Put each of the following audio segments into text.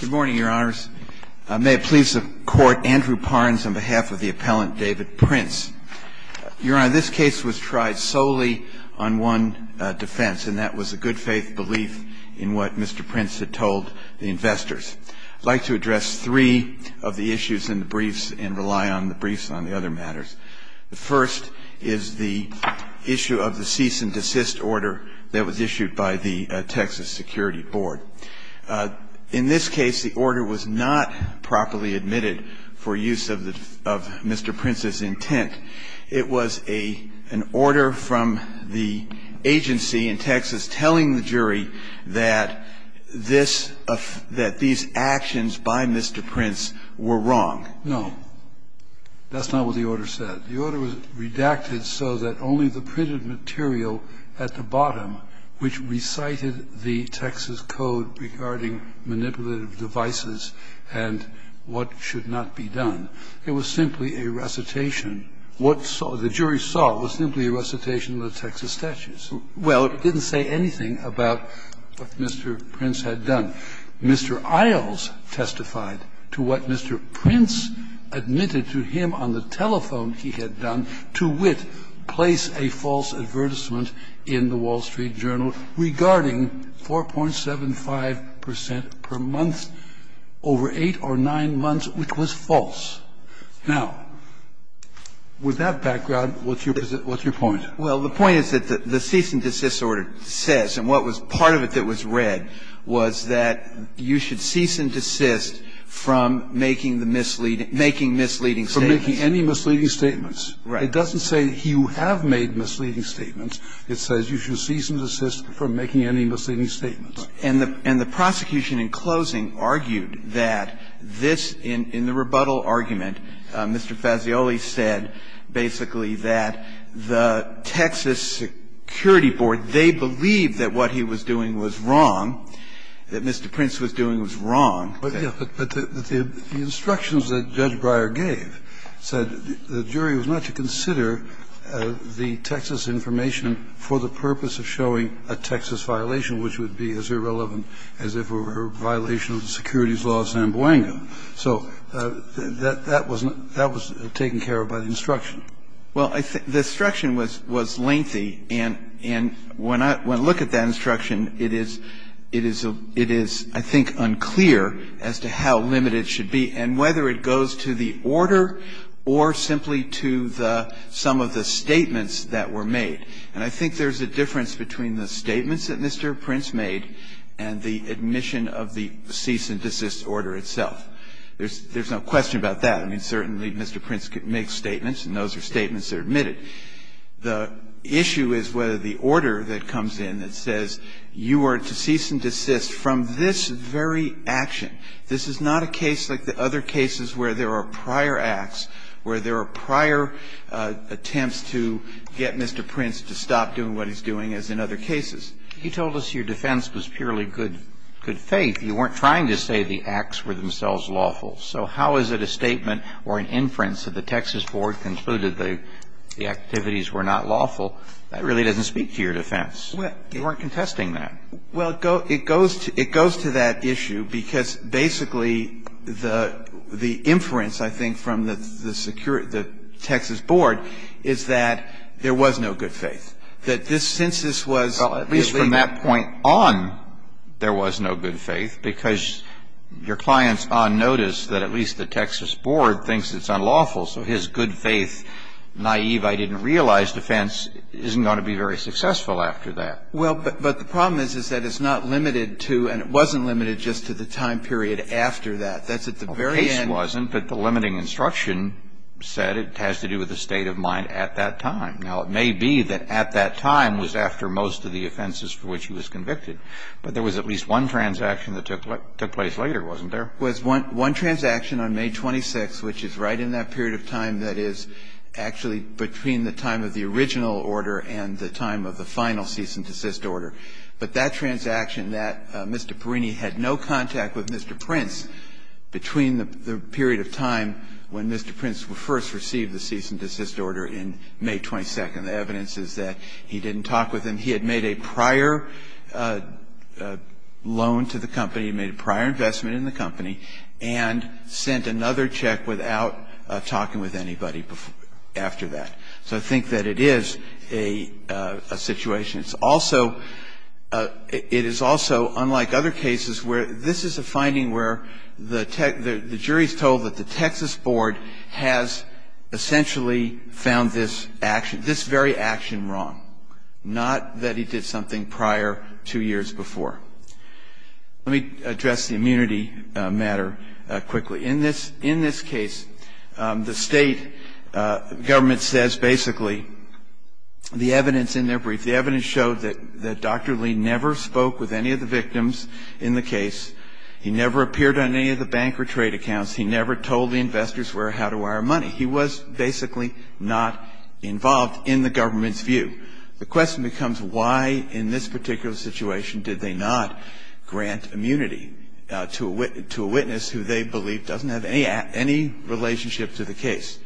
Good morning, Your Honors. May it please the Court, Andrew Parnes on behalf of the appellant David Prince. Your Honor, this case was tried solely on one defense, and that was a good-faith belief in what Mr. Prince had told the investors. I'd like to address three of the issues in the briefs and rely on the briefs on the other matters. The first is the issue of the cease-and-desist order that was issued by the Texas Security Board. In this case, the order was not properly admitted for use of Mr. Prince's intent. It was an order from the agency in Texas telling the jury that these actions by Mr. Prince were wrong. No, that's not what the order said. The order was redacted so that only the printed material at the bottom, which recited the Texas Code regarding manipulative devices and what should not be done, it was simply a recitation. What the jury saw was simply a recitation of the Texas statutes. Well, it didn't say anything about what Mr. Prince had done. Mr. Isles testified to what Mr. Prince admitted to him on the telephone he had done to wit, place a false advertisement in the Wall Street Journal regarding 4.75 percent per month over 8 or 9 months, which was false. Now, with that background, what's your point? Well, the point is that the cease-and-desist order says, and what was part of it that was part of it, was that you should cease and desist from making the misleading – making misleading statements. From making any misleading statements. Right. It doesn't say you have made misleading statements. It says you should cease and desist from making any misleading statements. And the prosecution in closing argued that this, in the rebuttal argument, Mr. Fazioli said basically that the Texas Security Board, they believed that what he was doing was wrong, that what Mr. Prince was doing was wrong. But the instructions that Judge Breyer gave said the jury was not to consider the Texas information for the purpose of showing a Texas violation, which would be as irrelevant as if it were a violation of the securities law of San Bueno. So that was taken care of by the instruction. Well, the instruction was lengthy. And when I look at that instruction, it is – it is, I think, unclear as to how limited it should be and whether it goes to the order or simply to the – some of the statements that were made. And I think there's a difference between the statements that Mr. Prince made and the admission of the cease-and-desist order itself. There's no question about that. I mean, certainly Mr. Prince makes statements, and those are statements that are admitted. The issue is whether the order that comes in that says you are to cease and desist from this very action. This is not a case like the other cases where there are prior acts, where there are prior attempts to get Mr. Prince to stop doing what he's doing as in other cases. You told us your defense was purely good – good faith. You weren't trying to say the acts were themselves lawful. So how is it a statement or an inference that the Texas board concluded the activities were not lawful? That really doesn't speak to your defense. You weren't contesting that. Well, it goes to – it goes to that issue because basically the – the inference, I think, from the security – the Texas board is that there was no good faith. That this – since this was illegal. Well, at least from that point on, there was no good faith, because your clients on notice that at least the Texas board thinks it's unlawful, so his good faith, naive, I didn't realize defense isn't going to be very successful after that. Well, but the problem is, is that it's not limited to, and it wasn't limited just to the time period after that. That's at the very end. Well, the case wasn't, but the limiting instruction said it has to do with the state of mind at that time. Now, it may be that at that time was after most of the offenses for which he was convicted. But there was at least one transaction that took place later, wasn't there? There was one transaction on May 26th, which is right in that period of time that is actually between the time of the original order and the time of the final cease and desist order. But that transaction, that Mr. Perrini had no contact with Mr. Prince between the period of time when Mr. Prince first received the cease and desist order in May 22nd. The evidence is that he didn't talk with him. He had made a prior loan to the company. He made a prior investment in the company and sent another check without talking with anybody after that. So I think that it is a situation. It's also, it is also unlike other cases where this is a finding where the jury is told that the Texas board has essentially found this action, this very action wrong, not that he did something prior two years before. Let me address the immunity matter quickly. In this case, the state government says basically the evidence in their brief, the evidence showed that Dr. Lee never spoke with any of the victims in the case. He never appeared on any of the bank or trade accounts. He never told the investors where, how to wire money. He was basically not involved in the government's view. The question becomes why in this particular situation did they not grant immunity to a witness who they believe doesn't have any relationship to the case.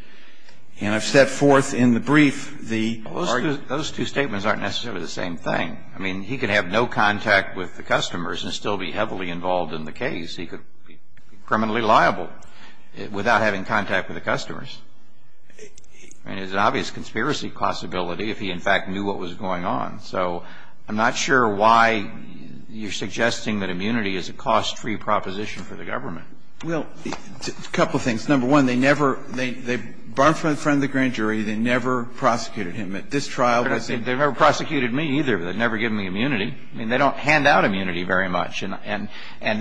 And I've set forth in the brief the argument. Those two statements aren't necessarily the same thing. I mean, he could have no contact with the customers and still be heavily involved in the case. I mean, it's an obvious conspiracy possibility if he in fact knew what was going on. So I'm not sure why you're suggesting that immunity is a cost-free proposition for the government. Well, a couple of things. Number one, they never, they barred from the grand jury. They never prosecuted him. At this trial, they said. They never prosecuted me either. They never gave me immunity. I mean, they don't hand out immunity very much. And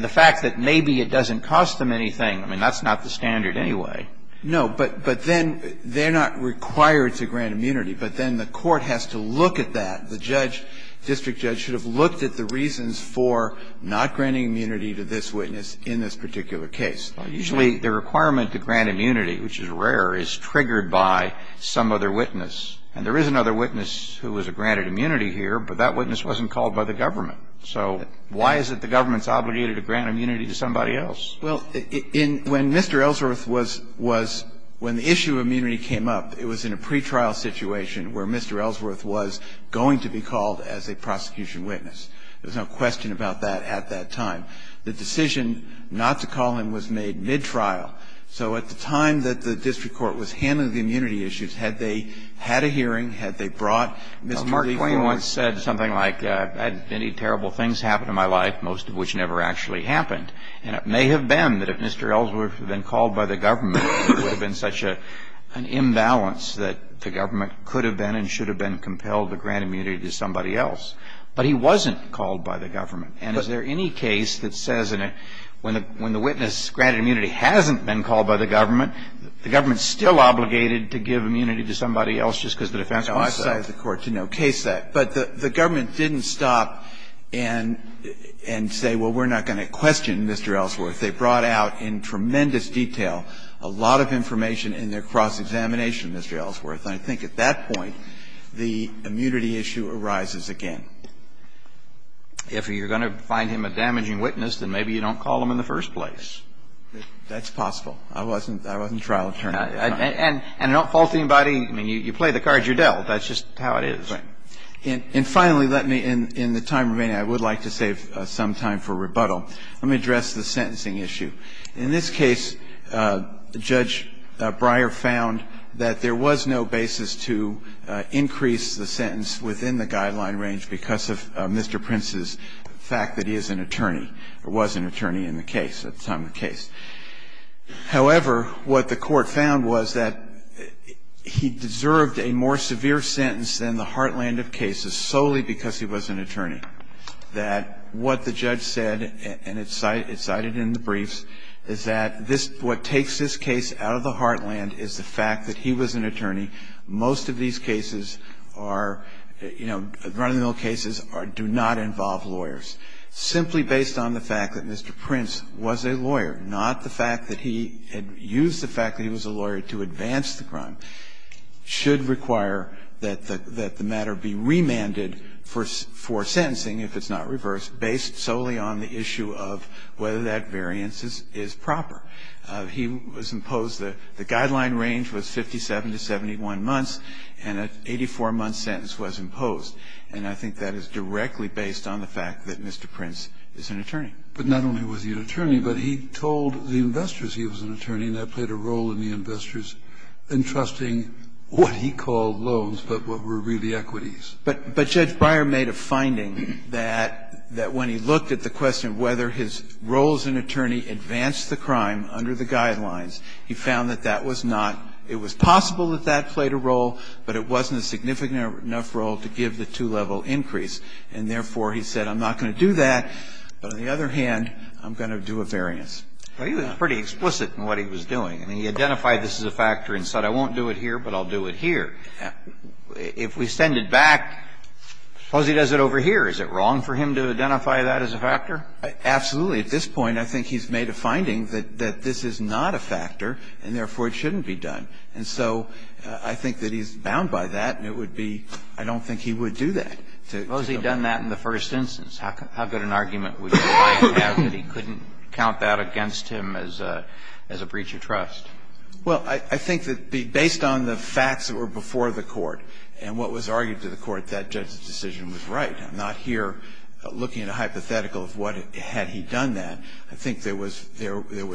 the fact that maybe it doesn't cost them anything, I mean, that's not the standard anyway. No, but then they're not required to grant immunity. But then the court has to look at that. The judge, district judge, should have looked at the reasons for not granting immunity to this witness in this particular case. Usually the requirement to grant immunity, which is rare, is triggered by some other witness. And there is another witness who was granted immunity here, but that witness wasn't called by the government. So why is it the government's obligated to grant immunity to somebody else? Well, in, when Mr. Ellsworth was, was, when the issue of immunity came up, it was in a pretrial situation where Mr. Ellsworth was going to be called as a prosecution witness. There was no question about that at that time. The decision not to call him was made mid-trial. So at the time that the district court was handling the immunity issues, had they had a hearing, had they brought Mr. Lee forward? Well, Mark Twain once said something like, I've had many terrible things happen in my life, most of which never actually happened. And it may have been that if Mr. Ellsworth had been called by the government, there would have been such an imbalance that the government could have been and should have been compelled to grant immunity to somebody else. But he wasn't called by the government. And is there any case that says when the witness granted immunity hasn't been called by the government, the government's still obligated to give immunity to somebody else just because the defense files say? No, I cite the court to no case that. But the government didn't stop and say, well, we're not going to question Mr. Ellsworth. They brought out in tremendous detail a lot of information in their cross-examination of Mr. Ellsworth. And I think at that point, the immunity issue arises again. If you're going to find him a damaging witness, then maybe you don't call him in the first place. That's possible. I wasn't trial attorney at that time. And don't fault anybody. I mean, you play the cards you're dealt. That's just how it is. And finally, let me, in the time remaining, I would like to save some time for rebuttal. Let me address the sentencing issue. In this case, Judge Breyer found that there was no basis to increase the sentence within the guideline range because of Mr. Prince's fact that he is an attorney or was an attorney in the case, at the time of the case. However, what the Court found was that he deserved a more severe sentence than the Hartland of cases solely because he was an attorney. That what the judge said, and it's cited in the briefs, is that this, what takes this case out of the Hartland is the fact that he was an attorney. Most of these cases are, you know, run-of-the-mill cases do not involve lawyers. Simply based on the fact that Mr. Prince was a lawyer, not the fact that he had used the fact that he was a lawyer to advance the crime, should require that the matter be remanded for sentencing, if it's not reversed, based solely on the issue of whether that variance is proper. He was imposed the guideline range was 57 to 71 months, and an 84-month sentence was imposed, and I think that is directly based on the fact that Mr. Prince is an attorney. But not only was he an attorney, but he told the investors he was an attorney, and that played a role in the investors entrusting what he called loans, but what were really equities. But Judge Breyer made a finding that when he looked at the question of whether his role as an attorney advanced the crime under the guidelines, he found that that was not – it was possible that that played a role, but it wasn't a significant enough role to give the two-level increase, and therefore he said, I'm not going to do that, but on the other hand, I'm going to do a variance. Well, he was pretty explicit in what he was doing. I mean, he identified this as a factor and said, I won't do it here, but I'll do it here. If we send it back, suppose he does it over here, is it wrong for him to identify that as a factor? Absolutely. At this point, I think he's made a finding that this is not a factor, and therefore it shouldn't be done. And so I think that he's bound by that, and it would be – I don't think he would do that. Suppose he had done that in the first instance. How good an argument would your client have that he couldn't count that against him as a breach of trust? Well, I think that based on the facts that were before the court and what was argued to the court, that judge's decision was right. I'm not here looking at a hypothetical of what – had he done that. I think there was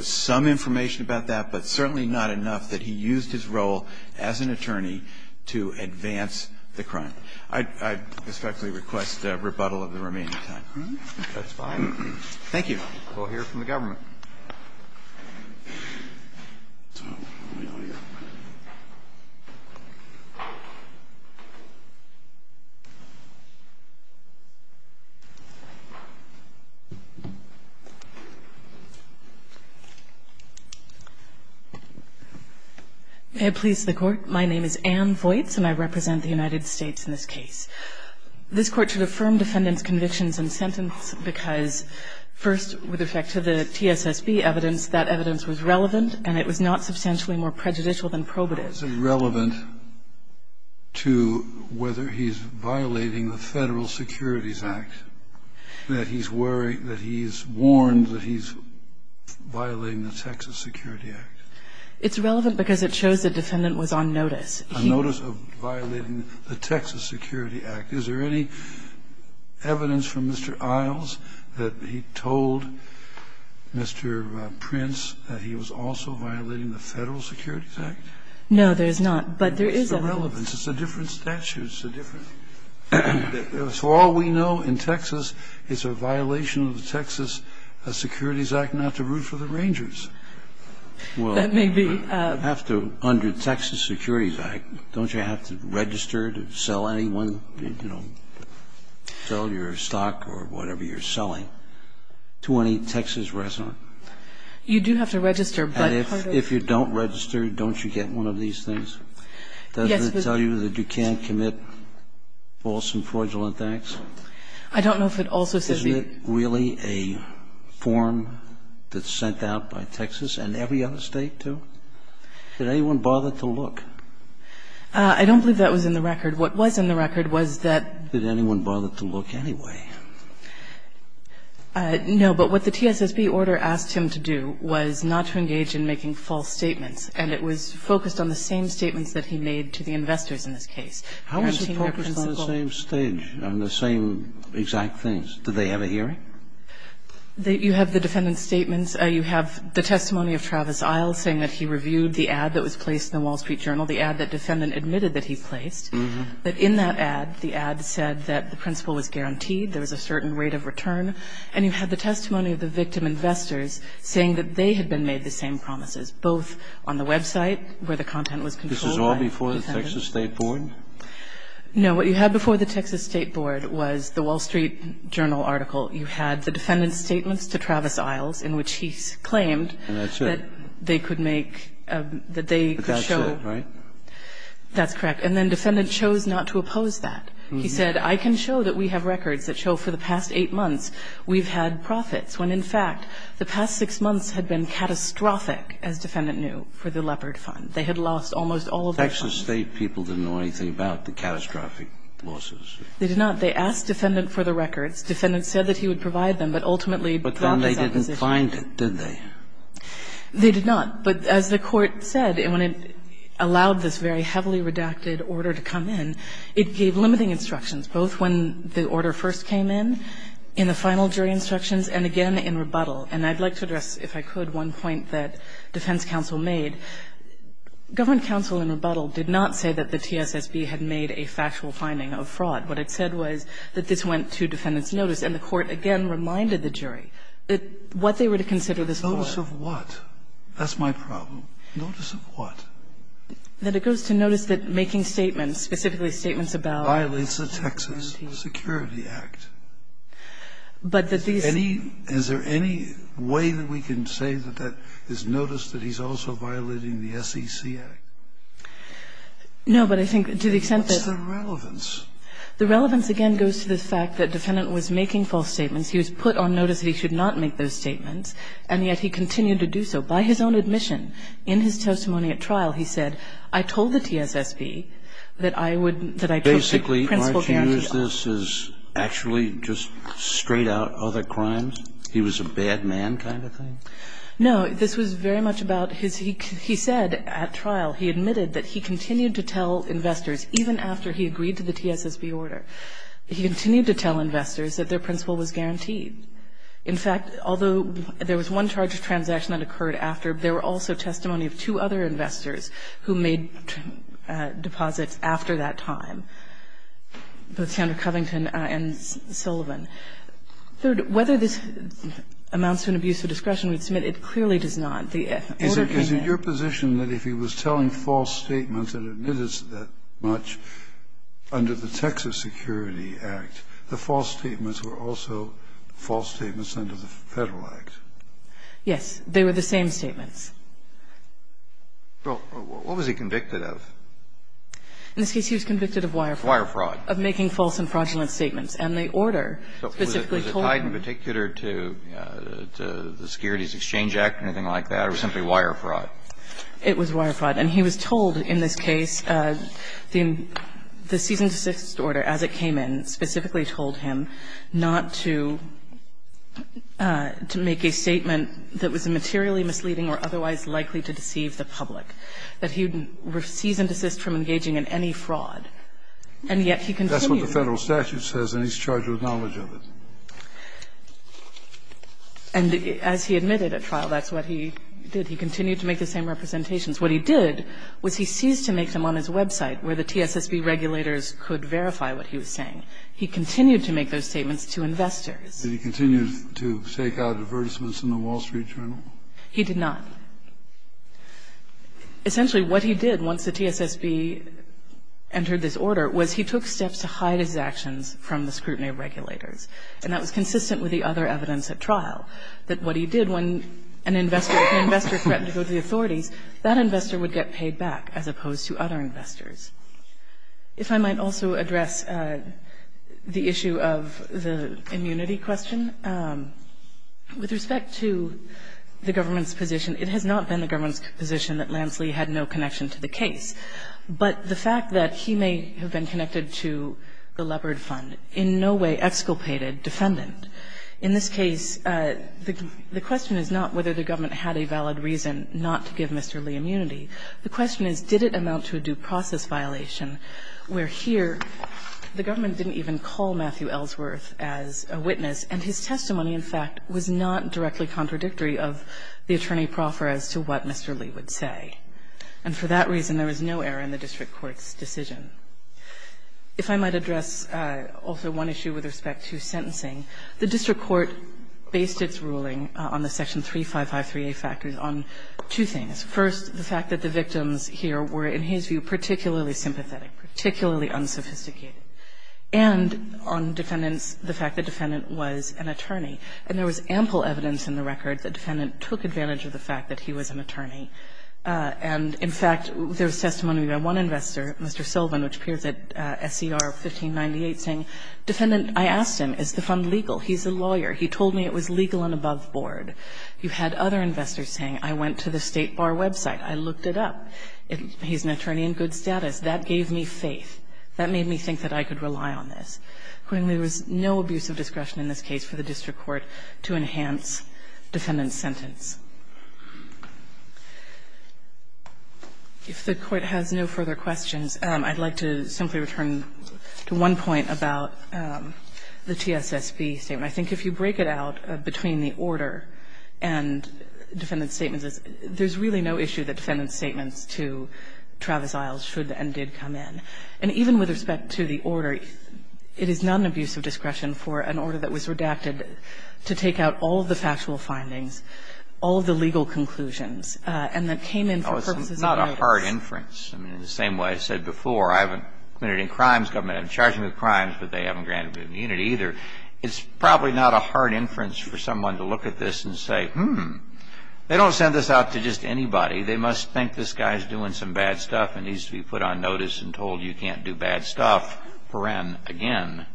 some information about that, but certainly not enough that he used his role as an attorney to advance the crime. I respectfully request rebuttal of the remaining time. That's fine. Thank you. We'll hear from the government. May it please the Court. My name is Ann Voights, and I represent the United States in this case. This Court should affirm defendant's convictions and sentence because, first, with respect to the TSSB evidence, that evidence was relevant, and it was not substantially more prejudicial than probative. Is it relevant to whether he's violating the Federal Securities Act, that he's worried – that he's warned that he's violating the Texas Security Act? It's relevant because it shows the defendant was on notice. A notice of violating the Texas Security Act. Is there any evidence from Mr. Isles that he told Mr. Prince that he was also violating the Federal Securities Act? No, there's not, but there is evidence. It's a different statute. It's a different – for all we know, in Texas, it's a violation of the Texas Securities Act not to root for the Rangers. That may be. Well, I have to – under Texas Security Act, don't you have to register to sell anyone, you know, sell your stock or whatever you're selling to any Texas resident? You do have to register, but part of the – And if you don't register, don't you get one of these things? Yes, but – Does it tell you that you can't commit false and fraudulent acts? I don't know if it also says you – Was there really a form that sent out by Texas and every other State to – did anyone bother to look? I don't believe that was in the record. What was in the record was that – Did anyone bother to look anyway? No, but what the TSSB order asked him to do was not to engage in making false statements, and it was focused on the same statements that he made to the investors in this case, the team representatives. It was on the same stage, on the same exact things. Did they have a hearing? You have the defendant's statements. You have the testimony of Travis Isle saying that he reviewed the ad that was placed in the Wall Street Journal, the ad that the defendant admitted that he placed. But in that ad, the ad said that the principle was guaranteed, there was a certain rate of return. And you have the testimony of the victim investors saying that they had been made the same promises, both on the website where the content was controlled by the defendant. This was all before the Texas State Board? No. What you had before the Texas State Board was the Wall Street Journal article. You had the defendant's statements to Travis Isles in which he claimed that they could make – that they could show – But that's it, right? That's correct. And then defendant chose not to oppose that. He said, I can show that we have records that show for the past eight months we've had profits, when in fact the past six months had been catastrophic, as defendant knew, for the Leopard Fund. They had lost almost all of their funds. But the Texas State people didn't know anything about the catastrophic losses. They did not. They asked defendant for the records. Defendant said that he would provide them, but ultimately dropped his opposition. But then they didn't find it, did they? They did not. But as the Court said, when it allowed this very heavily redacted order to come in, it gave limiting instructions, both when the order first came in, in the final jury instructions, and again in rebuttal. And I'd like to address, if I could, one point that defense counsel made. Government counsel in rebuttal did not say that the TSSB had made a factual finding of fraud. What it said was that this went to defendant's notice, and the Court again reminded the jury what they were to consider this for. Notice of what? That's my problem. Notice of what? That it goes to notice that making statements, specifically statements about this entity. Violates the Texas Security Act. But that these any – is there any way that we can say that that is notice that he's also violating the SEC Act? No, but I think to the extent that – What's the relevance? The relevance, again, goes to the fact that defendant was making false statements. He was put on notice that he should not make those statements, and yet he continued to do so. By his own admission, in his testimony at trial, he said, I told the TSSB that I would – that I took the principal guarantee – Basically, aren't you using this as actually just straight-out other crimes? He was a bad man kind of thing? No. This was very much about his – he said at trial, he admitted that he continued to tell investors, even after he agreed to the TSSB order, he continued to tell investors that their principal was guaranteed. In fact, although there was one charge of transaction that occurred after, there were also testimony of two other investors who made deposits after that time, both Senator Covington and Sullivan. Third, whether this amounts to an abuse of discretion, we'd submit it clearly does not. The order came in. Is it your position that if he was telling false statements and admitted that much under the Texas Security Act, the false statements were also false statements under the Federal Act? Yes. They were the same statements. Well, what was he convicted of? In this case, he was convicted of wire fraud. Wire fraud. Of making false and fraudulent statements. And the order specifically told him. So was it tied in particular to the Securities Exchange Act or anything like that or simply wire fraud? It was wire fraud. And he was told in this case, the cease and desist order as it came in specifically told him not to make a statement that was materially misleading or otherwise likely to deceive the public, that he would cease and desist from engaging in any fraud, and yet he continued. That's what the Federal statute says, and he's charged with knowledge of it. And as he admitted at trial, that's what he did. He continued to make the same representations. What he did was he ceased to make them on his website where the TSSB regulators could verify what he was saying. He continued to make those statements to investors. Did he continue to take out advertisements in the Wall Street Journal? He did not. Essentially what he did once the TSSB entered this order was he took steps to hide his actions from the scrutiny of regulators, and that was consistent with the other evidence at trial, that what he did when an investor threatened to go to the authorities, that investor would get paid back as opposed to other investors. If I might also address the issue of the immunity question, with respect to the government's position, it has not been the government's position that Lance Lee had no connection to the case, but the fact that he may have been connected to the Leopard Fund in no way exculpated defendant. In this case, the question is not whether the government had a valid reason not to give Mr. Lee immunity. The question is did it amount to a due process violation where here the government didn't even call Matthew Ellsworth as a witness, and his testimony, in fact, was not directly contradictory of the attorney proffer as to what Mr. Lee would say. And for that reason, there was no error in the district court's decision. If I might address also one issue with respect to sentencing, the district court based its ruling on the section 3553A factors on two things. First, the fact that the victims here were, in his view, particularly sympathetic, particularly unsophisticated. And on defendants, the fact the defendant was an attorney. And there was ample evidence in the record that defendant took advantage of the fact that he was an attorney. And, in fact, there was testimony by one investor, Mr. Sullivan, which appears at SER 1598, saying, defendant, I asked him, is the fund legal? He's a lawyer. He told me it was legal and above board. You had other investors saying, I went to the State Bar website. I looked it up. He's an attorney in good status. That gave me faith. That made me think that I could rely on this. Accordingly, there was no abuse of discretion in this case for the district court to enhance defendant's sentence. If the Court has no further questions, I'd like to simply return to one point about the TSSB statement. I think if you break it out between the order and defendant's statements, there's really no issue that defendant's statements to Travis Isles should and did come in. And even with respect to the order, it is not an abuse of discretion for an order that was redacted to take out all of the factual findings, all of the legal conclusions, and that came in for purposes of notice. It's not a hard inference. I mean, in the same way I said before, I haven't committed any crimes. Government hasn't charged me with crimes, but they haven't granted me immunity either. It's probably not a hard inference for someone to look at this and say, hmm, they don't send this out to just anybody. They must think this guy's doing some bad stuff and needs to be put on notice and told you can't do bad stuff, again.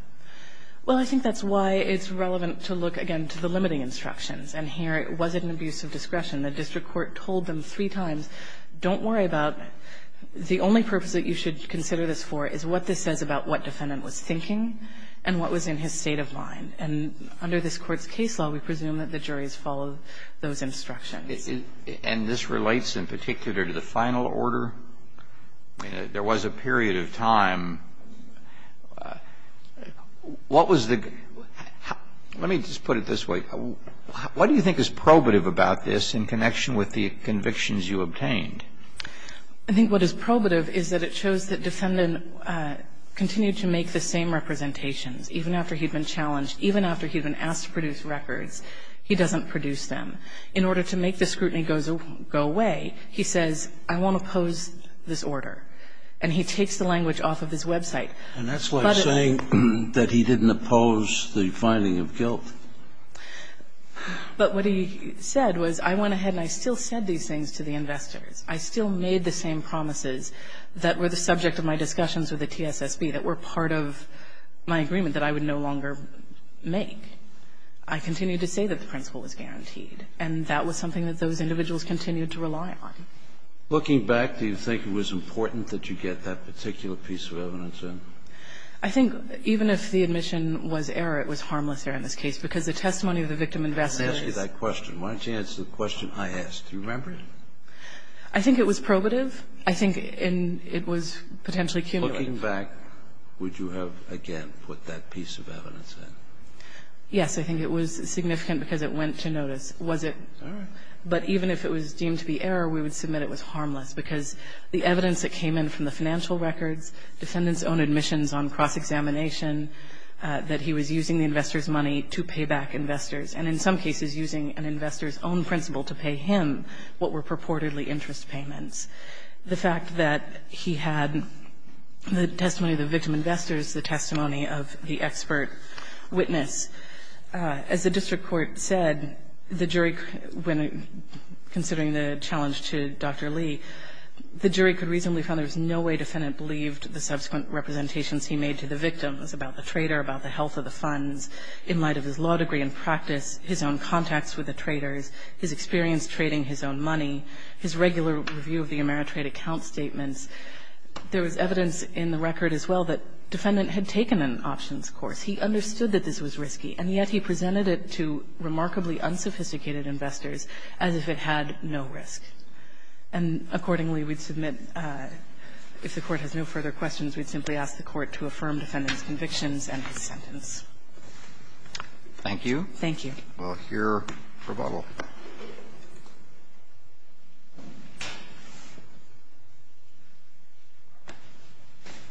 Well, I think that's why it's relevant to look, again, to the limiting instructions. And here, was it an abuse of discretion? The district court told them three times, don't worry about it. The only purpose that you should consider this for is what this says about what defendant was thinking and what was in his state of mind. And under this Court's case law, we presume that the juries follow those instructions. And this relates in particular to the final order? I mean, there was a period of time. What was the – let me just put it this way. What do you think is probative about this in connection with the convictions you obtained? I think what is probative is that it shows that defendant continued to make the same representations. Even after he'd been challenged, even after he'd been asked to produce records, he doesn't produce them. In order to make the scrutiny go away, he says, I won't oppose this order. And he takes the language off of his website. And that's like saying that he didn't oppose the finding of guilt. But what he said was, I went ahead and I still said these things to the investors. I still made the same promises that were the subject of my discussions with the TSSB that were part of my agreement that I would no longer make. I continued to say that the principle was guaranteed. And that was something that those individuals continued to rely on. Looking back, do you think it was important that you get that particular piece of evidence in? I think even if the admission was error, it was harmless error in this case, because the testimony of the victim and vassal is. Let me ask you that question. Why don't you answer the question I asked. Do you remember it? I think it was probative. I think it was potentially cumulative. Looking back, would you have, again, put that piece of evidence in? Yes. I think it was significant because it went to notice. Was it? But even if it was deemed to be error, we would submit it was harmless, because the evidence that came in from the financial records, defendant's own admissions on cross-examination, that he was using the investor's money to pay back investors, and in some cases using an investor's own principle to pay him what were purportedly interest payments. The fact that he had the testimony of the victim investors, the testimony of the expert witness, as the district court said, the jury, when considering the challenge to Dr. Lee, the jury could reasonably find there was no way defendant believed the subsequent representations he made to the victims about the trader, about the health of the funds, in light of his law degree and practice, his own contacts with the traders, his experience trading his own money, his regular review of the Ameritrade account statements. There was evidence in the record as well that defendant had taken an options course. He understood that this was risky, and yet he presented it to remarkably unsophisticated investors as if it had no risk. And accordingly, we'd submit, if the Court has no further questions, we'd simply ask the Court to affirm defendant's convictions and his sentence. Thank you. Thank you. We'll hear rebuttal.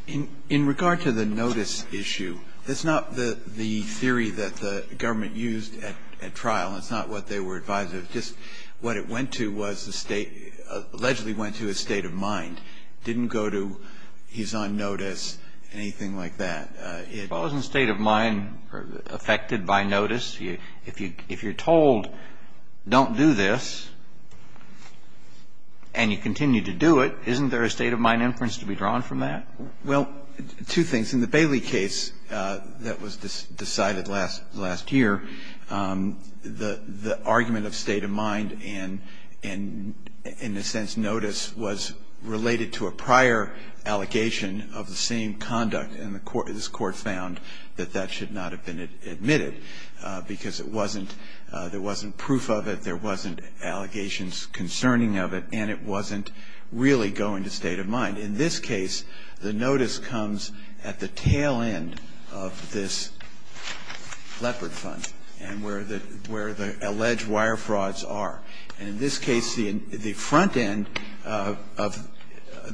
In regard to the notice issue, it's not the theory that the government used at trial, it's not what they were advised of. Just what it went to was the State, allegedly went to his state of mind, didn't go to he's on notice, anything like that. Wasn't state of mind affected by notice? If you're told don't do this, and you continue to do it, isn't there a state of mind inference to be drawn from that? Well, two things. In the Bailey case that was decided last year, the argument of state of mind and, in a sense, notice was related to a prior allegation of the same conduct, and this Court found that that should not have been admitted because it wasn't, there wasn't proof of it, there wasn't allegations concerning of it, and it wasn't really going to state of mind. In this case, the notice comes at the tail end of this leopard fund and where the alleged wire frauds are. And in this case, the front end of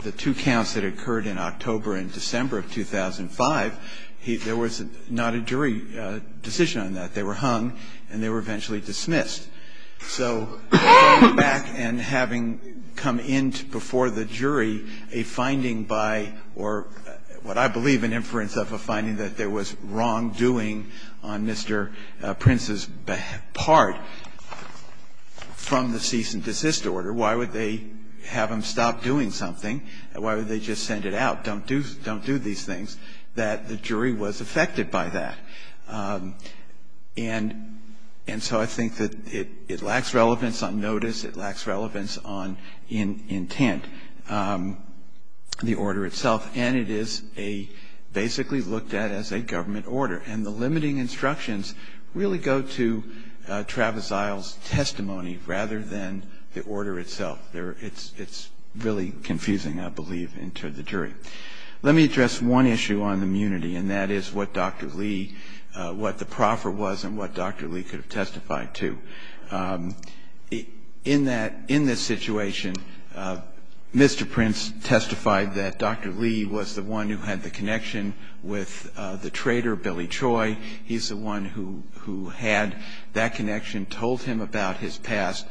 the two counts that occurred in October and December of 2005, there was not a jury decision on that. They were hung and they were eventually dismissed. So going back and having come in before the jury a finding by, or what I believe an inference of a finding that there was wrongdoing on Mr. Prince's part from the cease and desist order, why would they have him stop doing something? Why would they just send it out? Don't do these things, that the jury was affected by that. And so I think that it lacks relevance on notice. It lacks relevance on intent, the order itself. And it is a basically looked at as a government order. And the limiting instructions really go to Travis Isle's testimony rather than the order itself. It's really confusing, I believe, to the jury. Let me address one issue on immunity, and that is what Dr. Lee, what the proffer was and what Dr. Lee could have testified to. In that, in this situation, Mr. Prince testified that Dr. Lee was the one who had the connection with the trader, Billy Troy. He's the one who had that connection, told him about his past.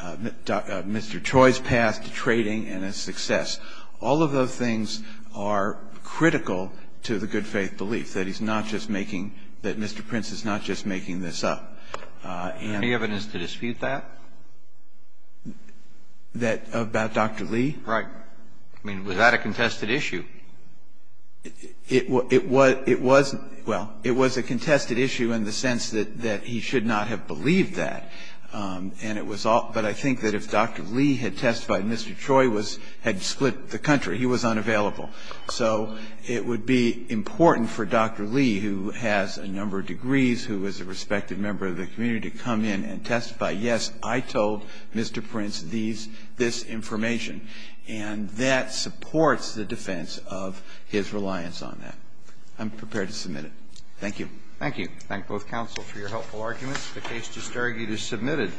Mr. Troy's past to trading and his success. All of those things are critical to the good faith belief, that he's not just making – that Mr. Prince is not just making this up. And the evidence to dispute that? That about Dr. Lee? Right. I mean, was that a contested issue? It was – well, it was a contested issue in the sense that he should not have believed that. And it was all – but I think that if Dr. Lee had testified and Mr. Troy was – had split the country, he was unavailable. So it would be important for Dr. Lee, who has a number of degrees, who is a respected member of the community, to come in and testify, yes, I told Mr. Prince these – this information. And that supports the defense of his reliance on that. I'm prepared to submit it. Thank you. Roberts. Thank you. Thank both counsel for your helpful arguments. The case disargued is submitted.